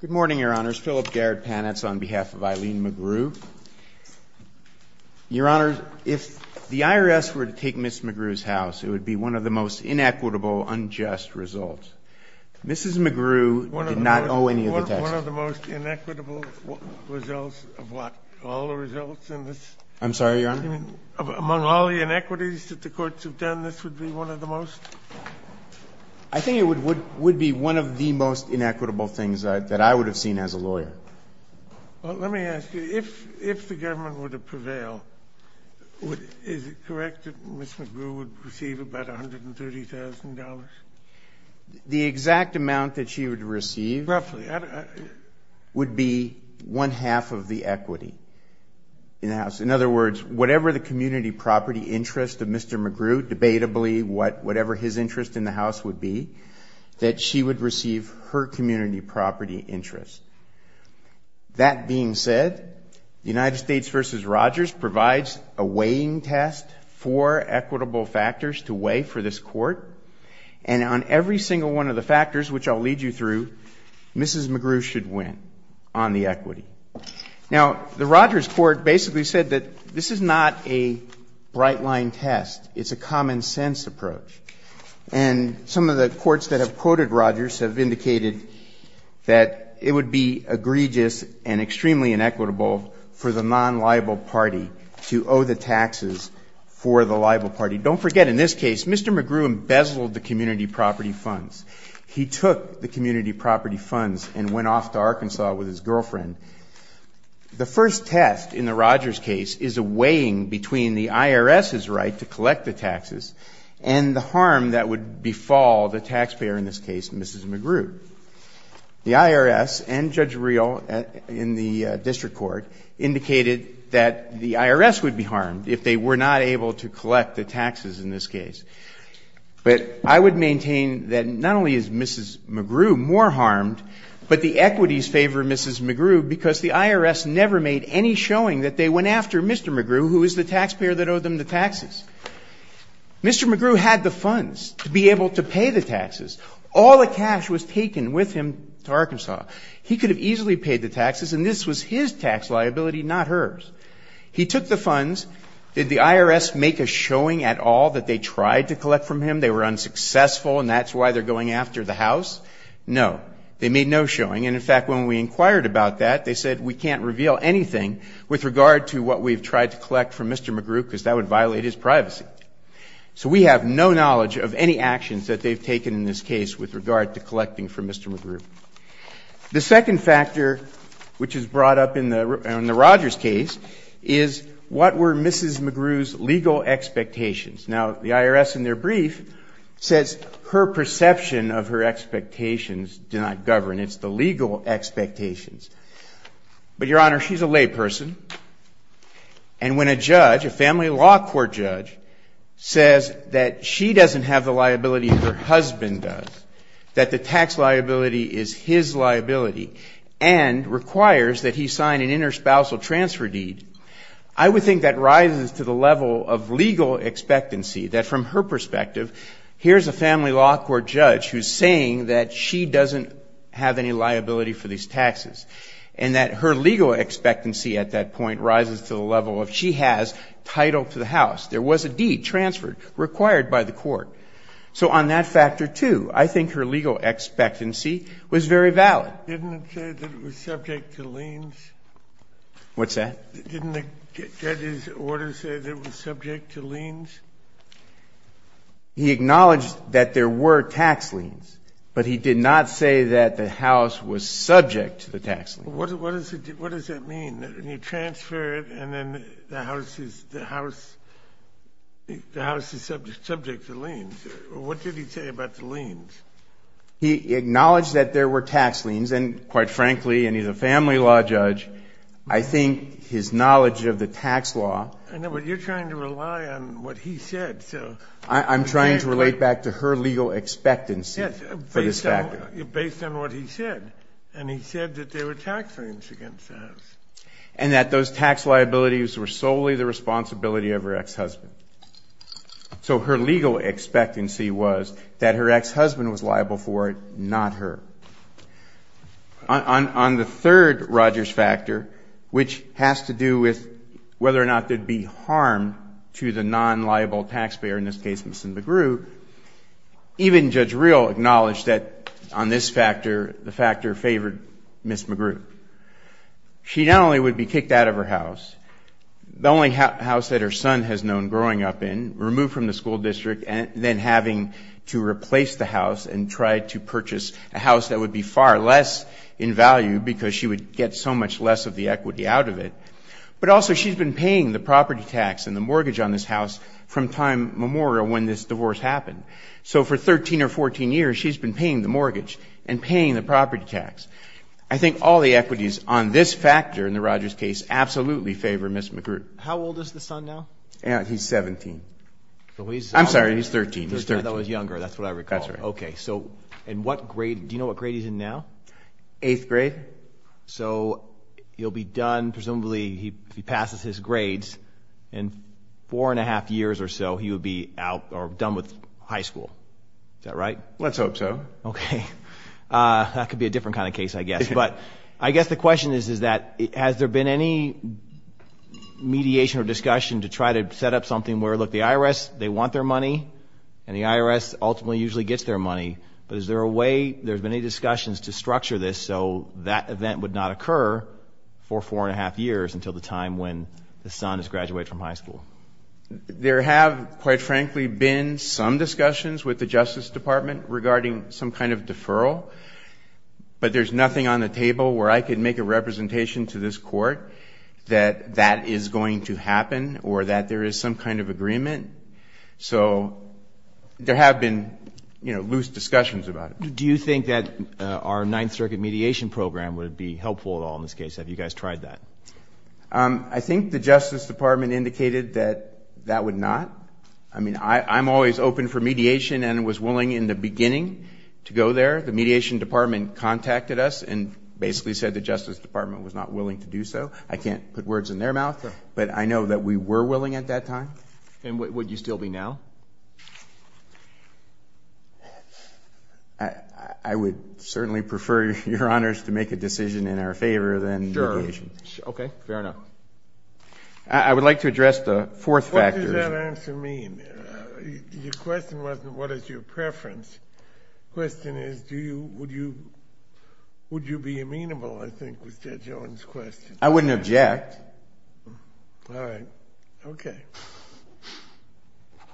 Good morning, Your Honors. Philip Garrett Panetz on behalf of Eileen McGrew. Your Honors, if the IRS were to take Ms. McGrew's house, it would be one of the most inequitable, unjust results. Mrs. McGrew did not owe any of the taxes. One of the most inequitable results of what? All the results in this? I'm sorry, Your Honor? Among all the inequities that the courts have done, this would be one of the most? I think it would be one of the most inequitable things that I would have seen as a lawyer. Well, let me ask you, if the government were to prevail, is it correct that Ms. McGrew would receive about $130,000? The exact amount that she would receive would be one-half of the equity in the house. In other words, whatever the community property interest of Mr. McGrew, debatably whatever his interest in the house would be, that she would receive her community property interest. That being said, the United States v. Rogers provides a weighing test for equitable factors to weigh for this court. And on every single one of the factors, which I'll lead you through, Mrs. McGrew should win on the equity. Now, the Rogers court basically said that this is not a bright-line test. It's a common-sense approach. And some of the courts that have quoted Rogers have indicated that it would be egregious and extremely inequitable for the non-liable party to owe the taxes for the liable party. Don't forget, in this case, Mr. McGrew embezzled the community property funds. He took the community property funds and went off to Arkansas with his girlfriend. The first test in the Rogers case is a weighing between the IRS's right to collect the taxes and the harm that would befall the taxpayer in this case, Mrs. McGrew. The IRS and Judge Reel in the district court indicated that the IRS would be harmed if they were not able to collect the taxes in this case. But I would maintain that not only is Mrs. McGrew more harmed, but the equities favor Mrs. McGrew because the IRS never made any showing that they went after Mr. McGrew, who is the taxpayer that owed them the taxes. Mr. McGrew had the funds to be able to pay the taxes. All the cash was taken with him to Arkansas. He could have easily paid the taxes, and this was his tax liability, not hers. He took the funds. Did the IRS make a showing at all that they tried to collect from him? They were unsuccessful, and that's why they're going after the house? No. They made no showing. And, in fact, when we inquired about that, they said, we can't reveal anything with regard to what we've tried to collect from Mr. McGrew because that would violate his privacy. So we have no knowledge of any actions that they've taken in this case with regard to collecting from Mr. McGrew. The second factor, which is brought up in the Rogers case, is what were Mrs. McGrew's legal expectations? Now, the IRS, in their brief, says her perception of her expectations did not govern. It's the legal expectations. But, Your Honor, she's a layperson, and when a judge, a family law court judge, says that she doesn't have the liability her husband does, that the tax liability is his liability, and requires that he sign an interspousal transfer deed, I would think that rises to the level of legal expectancy, that from her perspective, here's a family law court judge who's saying that she doesn't have any liability for these taxes, and that her legal expectancy at that point rises to the level of she has title to the house. There was a deed transferred, required by the court. So on that factor, too, I think her legal expectancy was very valid. Didn't it say that it was subject to liens? What's that? Didn't the judge's order say that it was subject to liens? He acknowledged that there were tax liens, but he did not say that the house was subject to the tax liens. What does that mean? You transfer it, and then the house is subject to liens. What did he say about the liens? He acknowledged that there were tax liens, and quite frankly, and he's a family law judge, I think his knowledge of the tax law. I know, but you're trying to rely on what he said. I'm trying to relate back to her legal expectancy for this factor. Based on what he said, and he said that there were tax liens against the house. And that those tax liabilities were solely the responsibility of her ex-husband. So her legal expectancy was that her ex-husband was liable for it, not her. On the third Rogers factor, which has to do with whether or not there'd be harm to the non-liable taxpayer, in this case, Ms. McGrew, even Judge Real acknowledged that on this factor, the factor favored Ms. McGrew. She not only would be kicked out of her house, the only house that her son has known growing up in, removed from the school district, and then having to replace the house and try to purchase a house that would be far less in value because she would get so much less of the equity out of it. But also, she's been paying the property tax and the mortgage on this house from time memorial when this divorce happened. So for 13 or 14 years, she's been paying the mortgage and paying the property tax. I think all the equities on this factor, in the Rogers case, absolutely favor Ms. McGrew. How old is the son now? He's 17. I'm sorry, he's 13. That was younger, that's what I recall. That's right. Okay, so in what grade, do you know what grade he's in now? Eighth grade. Eighth grade. So he'll be done, presumably, if he passes his grades, in four and a half years or so, he would be out or done with high school. Is that right? Let's hope so. Okay. That could be a different kind of case, I guess. But I guess the question is, is that has there been any mediation or discussion to try to set up something where, look, the IRS, they want their money, and the IRS ultimately usually gets their money. But is there a way, there's been any discussions to structure this so that event would not occur for four and a half years until the time when the son has graduated from high school? There have, quite frankly, been some discussions with the Justice Department regarding some kind of deferral. But there's nothing on the table where I could make a representation to this Court that that is going to happen or that there is some kind of agreement. So there have been loose discussions about it. Do you think that our Ninth Circuit mediation program would be helpful at all in this case? Have you guys tried that? I think the Justice Department indicated that that would not. I mean, I'm always open for mediation and was willing in the beginning to go there. The Mediation Department contacted us and basically said the Justice Department was not willing to do so. I can't put words in their mouth, but I know that we were willing at that time. And would you still be now? I would certainly prefer Your Honors to make a decision in our favor than mediation. Okay, fair enough. I would like to address the fourth factor. What does that answer mean? Your question wasn't what is your preference. The question is would you be amenable, I think, was Judge Owen's question. I wouldn't object. All right. Okay.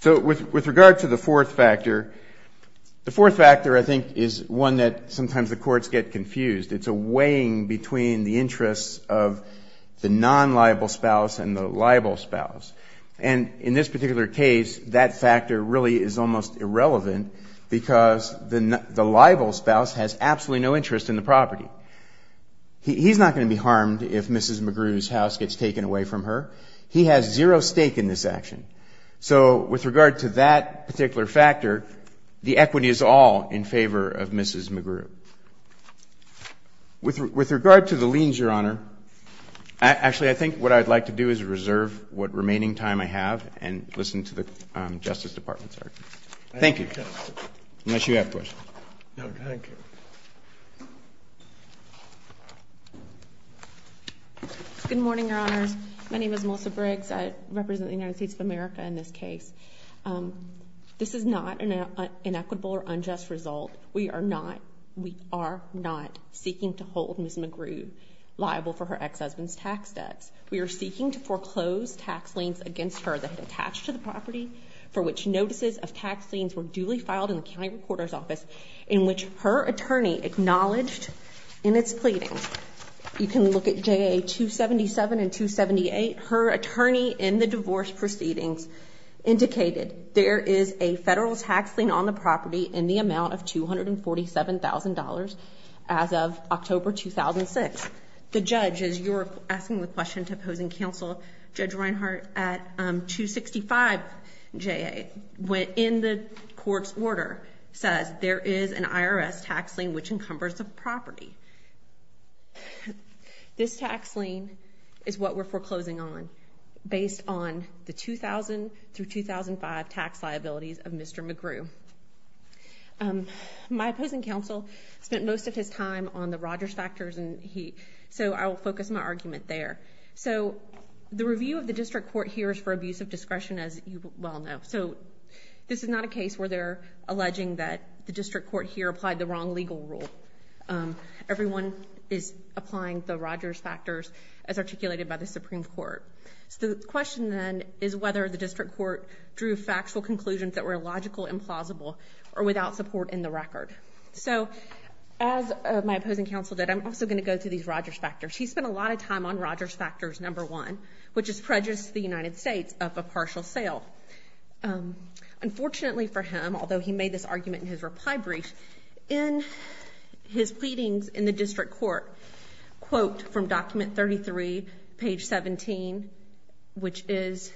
So with regard to the fourth factor, the fourth factor, I think, is one that sometimes the courts get confused. It's a weighing between the interests of the non-liable spouse and the liable spouse. And in this particular case, that factor really is almost irrelevant because the liable spouse has absolutely no interest in the property. He's not going to be harmed if Mrs. McGrew's house gets taken away from her. He has zero stake in this action. So with regard to that particular factor, the equity is all in favor of Mrs. McGrew. With regard to the liens, Your Honor, actually, I think what I'd like to do is reserve what remaining time I have and listen to the Justice Department's argument. Thank you. Unless you have questions. No, thank you. Good morning, Your Honors. My name is Melissa Briggs. I represent the United States of America in this case. This is not an inequitable or unjust result. We are not seeking to hold Mrs. McGrew liable for her ex-husband's tax debts. We are seeking to foreclose tax liens against her that had attached to the property, for which notices of tax liens were duly filed in the county recorder's office, in which her attorney acknowledged in its pleading. You can look at JA-277 and 278. Her attorney in the divorce proceedings indicated there is a federal tax lien on the property in the amount of $247,000 as of October 2006. The judge, as you were asking the question to opposing counsel, Judge Reinhart, at 265 JA, in the court's order, says there is an IRS tax lien which encumbers the property. This tax lien is what we're foreclosing on based on the 2000 through 2005 tax liabilities of Mr. McGrew. My opposing counsel spent most of his time on the Rogers factors, so I will focus my argument there. The review of the district court here is for abuse of discretion, as you well know. This is not a case where they're alleging that the district court here applied the wrong legal rule. Everyone is applying the Rogers factors as articulated by the Supreme Court. So the question then is whether the district court drew factual conclusions that were illogical, implausible, or without support in the record. So as my opposing counsel did, I'm also going to go through these Rogers factors. He spent a lot of time on Rogers factors number one, which is prejudice to the United States of a partial sale. Unfortunately for him, although he made this argument in his reply brief, in his pleadings in the district court, quote from document 33, page 17, which is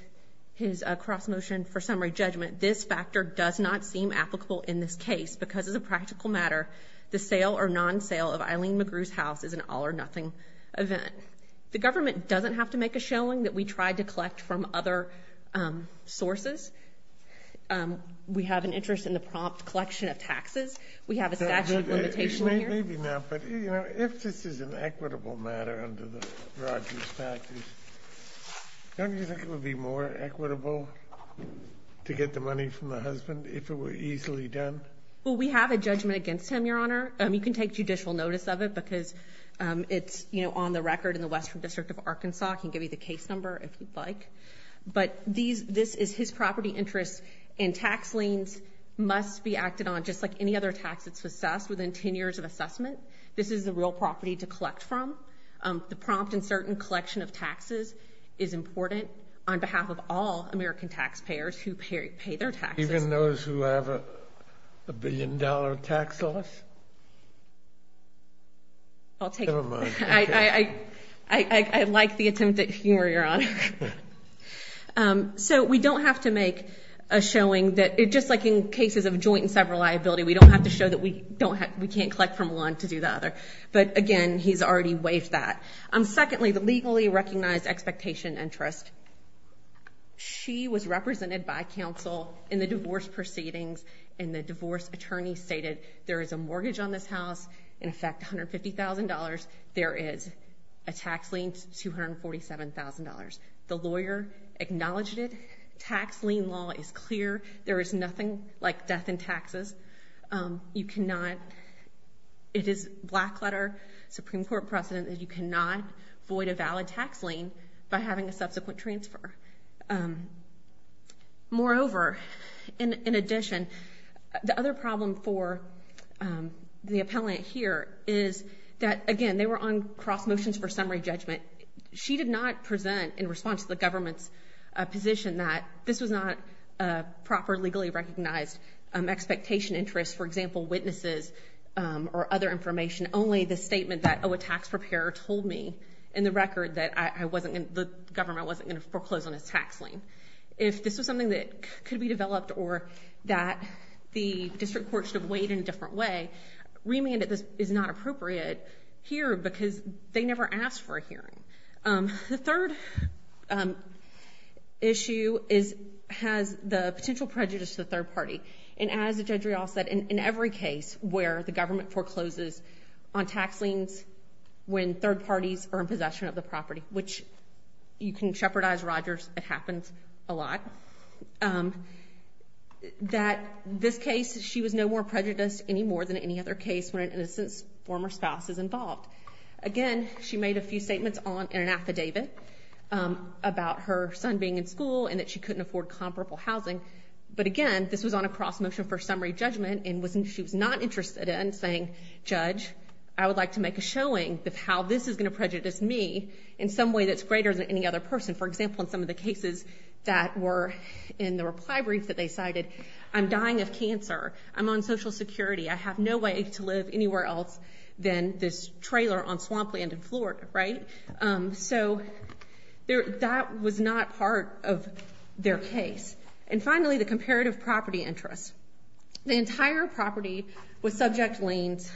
his cross motion for summary judgment, this factor does not seem applicable in this case because as a practical matter, the sale or non-sale of Eileen McGrew's house is an all or nothing event. The government doesn't have to make a showing that we tried to collect from other sources. We have an interest in the prompt collection of taxes. We have a statute limitation here. Maybe not, but if this is an equitable matter under the Rogers factors, don't you think it would be more equitable to get the money from the husband if it were easily done? Well, we have a judgment against him, Your Honor. You can take judicial notice of it because it's on the record in the Western District of Arkansas. I can give you the case number if you'd like. But this is his property interest, and tax liens must be acted on just like any other tax that's assessed within 10 years of assessment. This is the real property to collect from. The prompt and certain collection of taxes is important on behalf of all American taxpayers who pay their taxes. Even those who have a billion dollar tax loss? I'll take it. Never mind. I like the attempt at humor, Your Honor. So we don't have to make a showing that just like in cases of joint and several liability, we don't have to show that we can't collect from one to do the other. But again, he's already waived that. Secondly, the legally recognized expectation interest. She was represented by counsel in the divorce proceedings, and the divorce attorney stated there is a mortgage on this house, in effect $150,000. There is a tax lien, $247,000. The lawyer acknowledged it. Tax lien law is clear. There is nothing like death in taxes. You cannot, it is black letter, Supreme Court precedent that you cannot void a valid tax lien by having a subsequent transfer. Moreover, in addition, the other problem for the appellant here is that, again, they were on cross motions for summary judgment. She did not present in response to the government's position that this was not a proper legally recognized expectation interest, for example, witnesses or other information, only the statement that, oh, a tax preparer told me in the record that the government wasn't going to foreclose on his tax lien. If this was something that could be developed or that the district court should have weighed in a different way, remanded this is not appropriate here because they never asked for a hearing. The third issue has the potential prejudice to the third party. And as Judge Riall said, in every case where the government forecloses on tax liens when third parties are in possession of the property, which you can shepherdize Rogers, it happens a lot, that this case she was no more prejudiced any more than any other case when an innocent former spouse is involved. Again, she made a few statements in an affidavit about her son being in school and that she couldn't afford comparable housing. But again, this was on a cross motion for summary judgment and she was not interested in saying, Judge, I would like to make a showing of how this is going to prejudice me in some way that's greater than any other person. For example, in some of the cases that were in the reply brief that they cited, I'm dying of cancer. I'm on Social Security. I have no way to live anywhere else than this trailer on swampland in Florida. So that was not part of their case. And finally, the comparative property interest. The entire property was subject to liens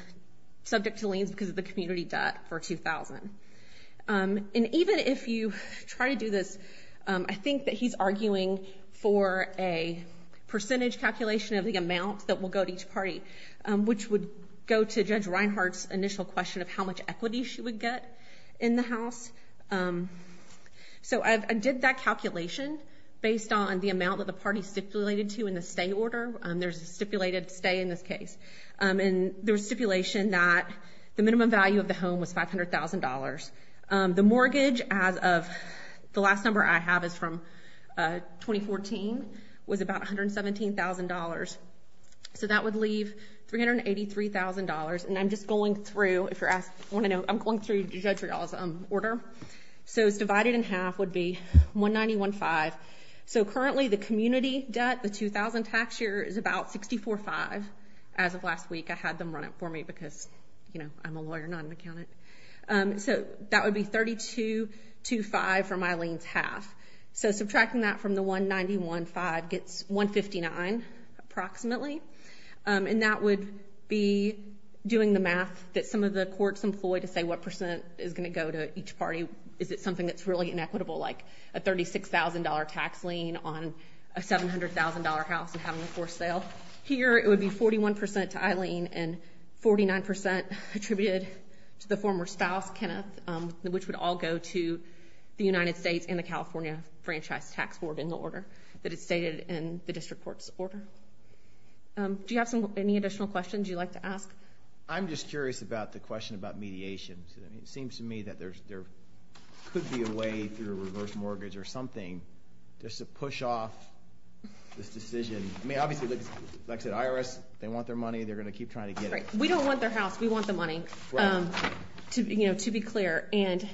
because of the community debt for 2000. And even if you try to do this, I think that he's arguing for a percentage calculation of the amount that will go to each party, which would go to Judge Reinhart's initial question of how much equity she would get in the house. So I did that calculation based on the amount of the party stipulated to in the state order. There's a stipulated stay in this case and there was stipulation that the minimum value of the home was five hundred thousand dollars. The mortgage as of the last number I have is from 2014 was about one hundred seventeen thousand dollars. So that would leave three hundred and eighty three thousand dollars. And I'm just going through if you're asked. I want to know. I'm going through the judge's order. So it's divided in half would be one ninety one five. So currently the community debt, the 2000 tax year is about sixty four five. As of last week, I had them run it for me because, you know, I'm a lawyer, not an accountant. So that would be thirty two to five for my liens half. So subtracting that from the one ninety one five gets one fifty nine approximately. And that would be doing the math that some of the courts employ to say what percent is going to go to each party. Is it something that's really inequitable, like a thirty six thousand dollar tax lien on a seven hundred thousand dollar house and having a forced sale? Here it would be forty one percent to Eileen and forty nine percent attributed to the former spouse, Kenneth, which would all go to the United States and the California Franchise Tax Board in the order that is stated in the district court's order. Do you have any additional questions you'd like to ask? I'm just curious about the question about mediation. It seems to me that there could be a way through a reverse mortgage or something just to push off this decision. I mean, obviously, like I said, IRS, they want their money. They're going to keep trying to get it. We don't want their house. We want the money to be clear. And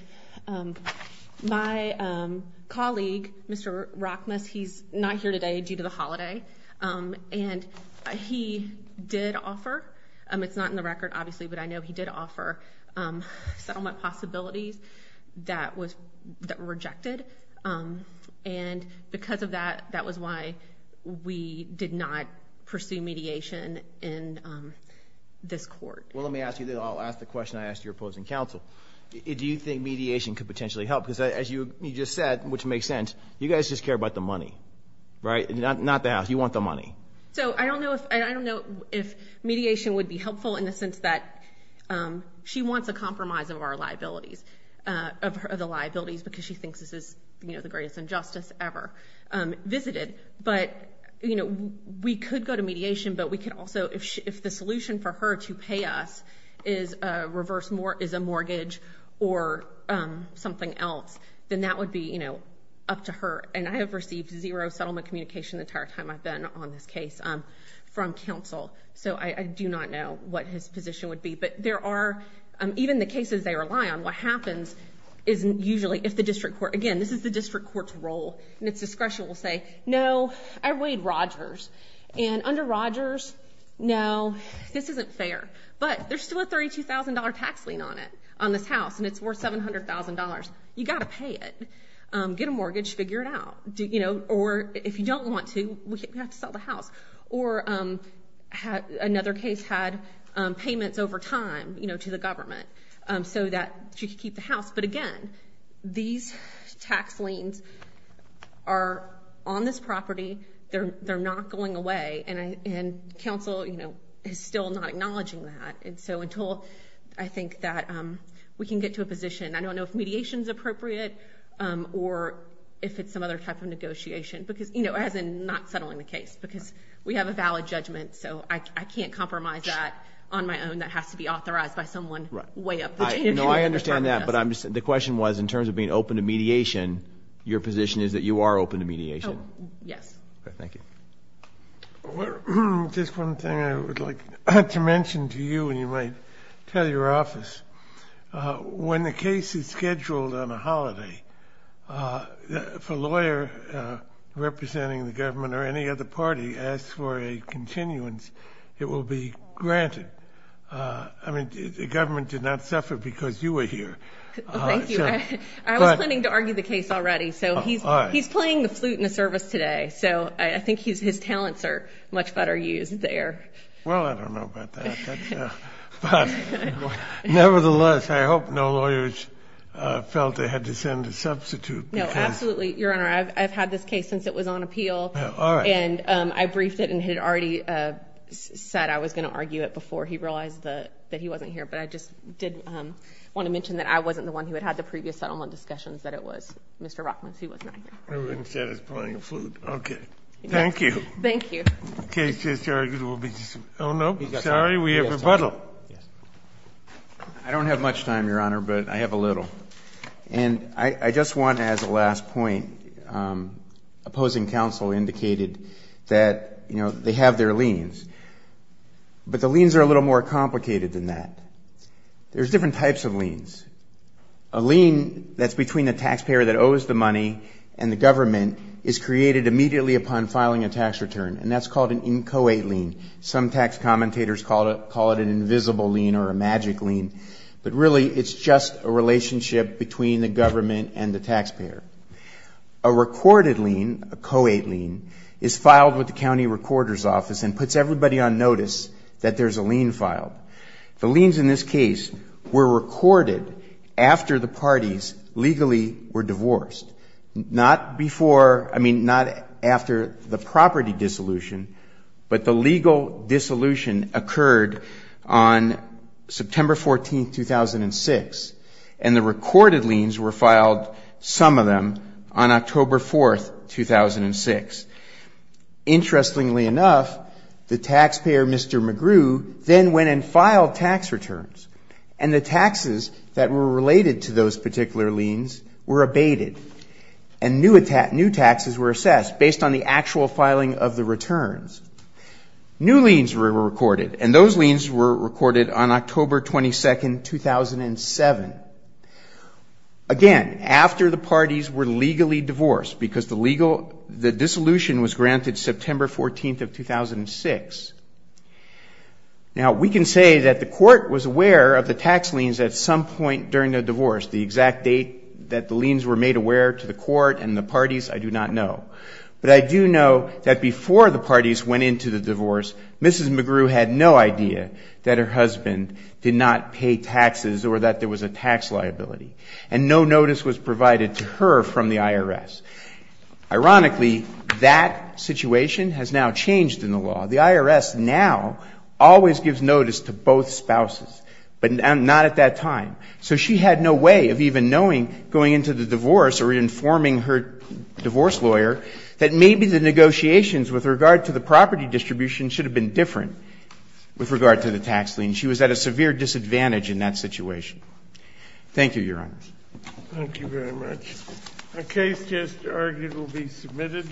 my colleague, Mr. Rockmus, he's not here today due to the holiday. And he did offer. It's not in the record, obviously, but I know he did offer settlement possibilities that was rejected. And because of that, that was why we did not pursue mediation in this court. Well, let me ask you this. I'll ask the question I asked your opposing counsel. Do you think mediation could potentially help? Because as you just said, which makes sense, you guys just care about the money, right? Not the house. You want the money. So I don't know if I don't know if mediation would be helpful in the sense that she wants a compromise of our liabilities, of the liabilities, because she thinks this is the greatest injustice ever visited. But we could go to mediation, but we could also, if the solution for her to pay us is a mortgage or something else, then that would be up to her. And I have received zero settlement communication the entire time I've been on this case from counsel. So I do not know what his position would be. But there are, even the cases they rely on, what happens is usually if the district court, again, this is the district court's role, and its discretion will say, no, I waived Rogers. And under Rogers, no, this isn't fair. But there's still a $32,000 tax lien on it, on this house, and it's worth $700,000. You've got to pay it. Get a mortgage. Figure it out. Or if you don't want to, we have to sell the house. Or another case had payments over time to the government so that she could keep the house. But, again, these tax liens are on this property. They're not going away. And counsel is still not acknowledging that. And so until I think that we can get to a position, I don't know if mediation is appropriate or if it's some other type of negotiation, as in not settling the case, because we have a valid judgment. So I can't compromise that on my own. That has to be authorized by someone way up the chain. No, I understand that. But the question was, in terms of being open to mediation, your position is that you are open to mediation? Yes. Thank you. Just one thing I would like to mention to you, and you might tell your office. When the case is scheduled on a holiday, if a lawyer representing the government or any other party asks for a continuance, it will be granted. I mean, the government did not suffer because you were here. Thank you. I was planning to argue the case already, so he's playing the flute in the service today. So I think his talents are much better used there. Well, I don't know about that. But nevertheless, I hope no lawyers felt they had to send a substitute. No, absolutely, Your Honor. I've had this case since it was on appeal, and I briefed it and had already said I was going to argue it before he realized that he wasn't here. But I just did want to mention that I wasn't the one who had had the previous settlement discussions that it was Mr. Rockman who was not here. I would have said he's playing the flute. Okay. Thank you. Thank you. The case is argued. Oh, no. Sorry, we have rebuttal. I don't have much time, Your Honor, but I have a little. And I just want to add the last point. Opposing counsel indicated that, you know, they have their liens, but the liens are a little more complicated than that. There's different types of liens. A lien that's between the taxpayer that owes the money and the government is created immediately upon filing a tax return, and that's called an incoate lien. Some tax commentators call it an invisible lien or a magic lien, but really it's just a relationship between the government and the taxpayer. A recorded lien, a coate lien, is filed with the county recorder's office and puts everybody on notice that there's a lien filed. The liens in this case were recorded after the parties legally were divorced. Not before, I mean, not after the property dissolution, but the legal dissolution occurred on September 14th, 2006, and the recorded liens were filed, some of them, on October 4th, 2006. Interestingly enough, the taxpayer, Mr. McGrew, then went and filed tax returns, and the taxes that were related to those particular liens were abated, and new taxes were assessed based on the actual filing of the returns. New liens were recorded, and those liens were recorded on October 22nd, 2007. Again, after the parties were legally divorced, because the legal, the dissolution was granted September 14th of 2006. Now, we can say that the court was aware of the tax liens at some point during the divorce. The exact date that the liens were made aware to the court and the parties, I do not know. But I do know that before the parties went into the divorce, Mrs. McGrew had no idea that her husband did not pay taxes or that there was a tax liability, and no notice was provided to her from the IRS. Ironically, that situation has now changed in the law. The IRS now always gives notice to both spouses, but not at that time. So she had no way of even knowing, going into the divorce or informing her divorce lawyer, that maybe the negotiations with regard to the property distribution should have been different with regard to the tax lien. She was at a severe disadvantage in that situation. Thank you, Your Honor. Thank you very much. The case just argued will be submitted.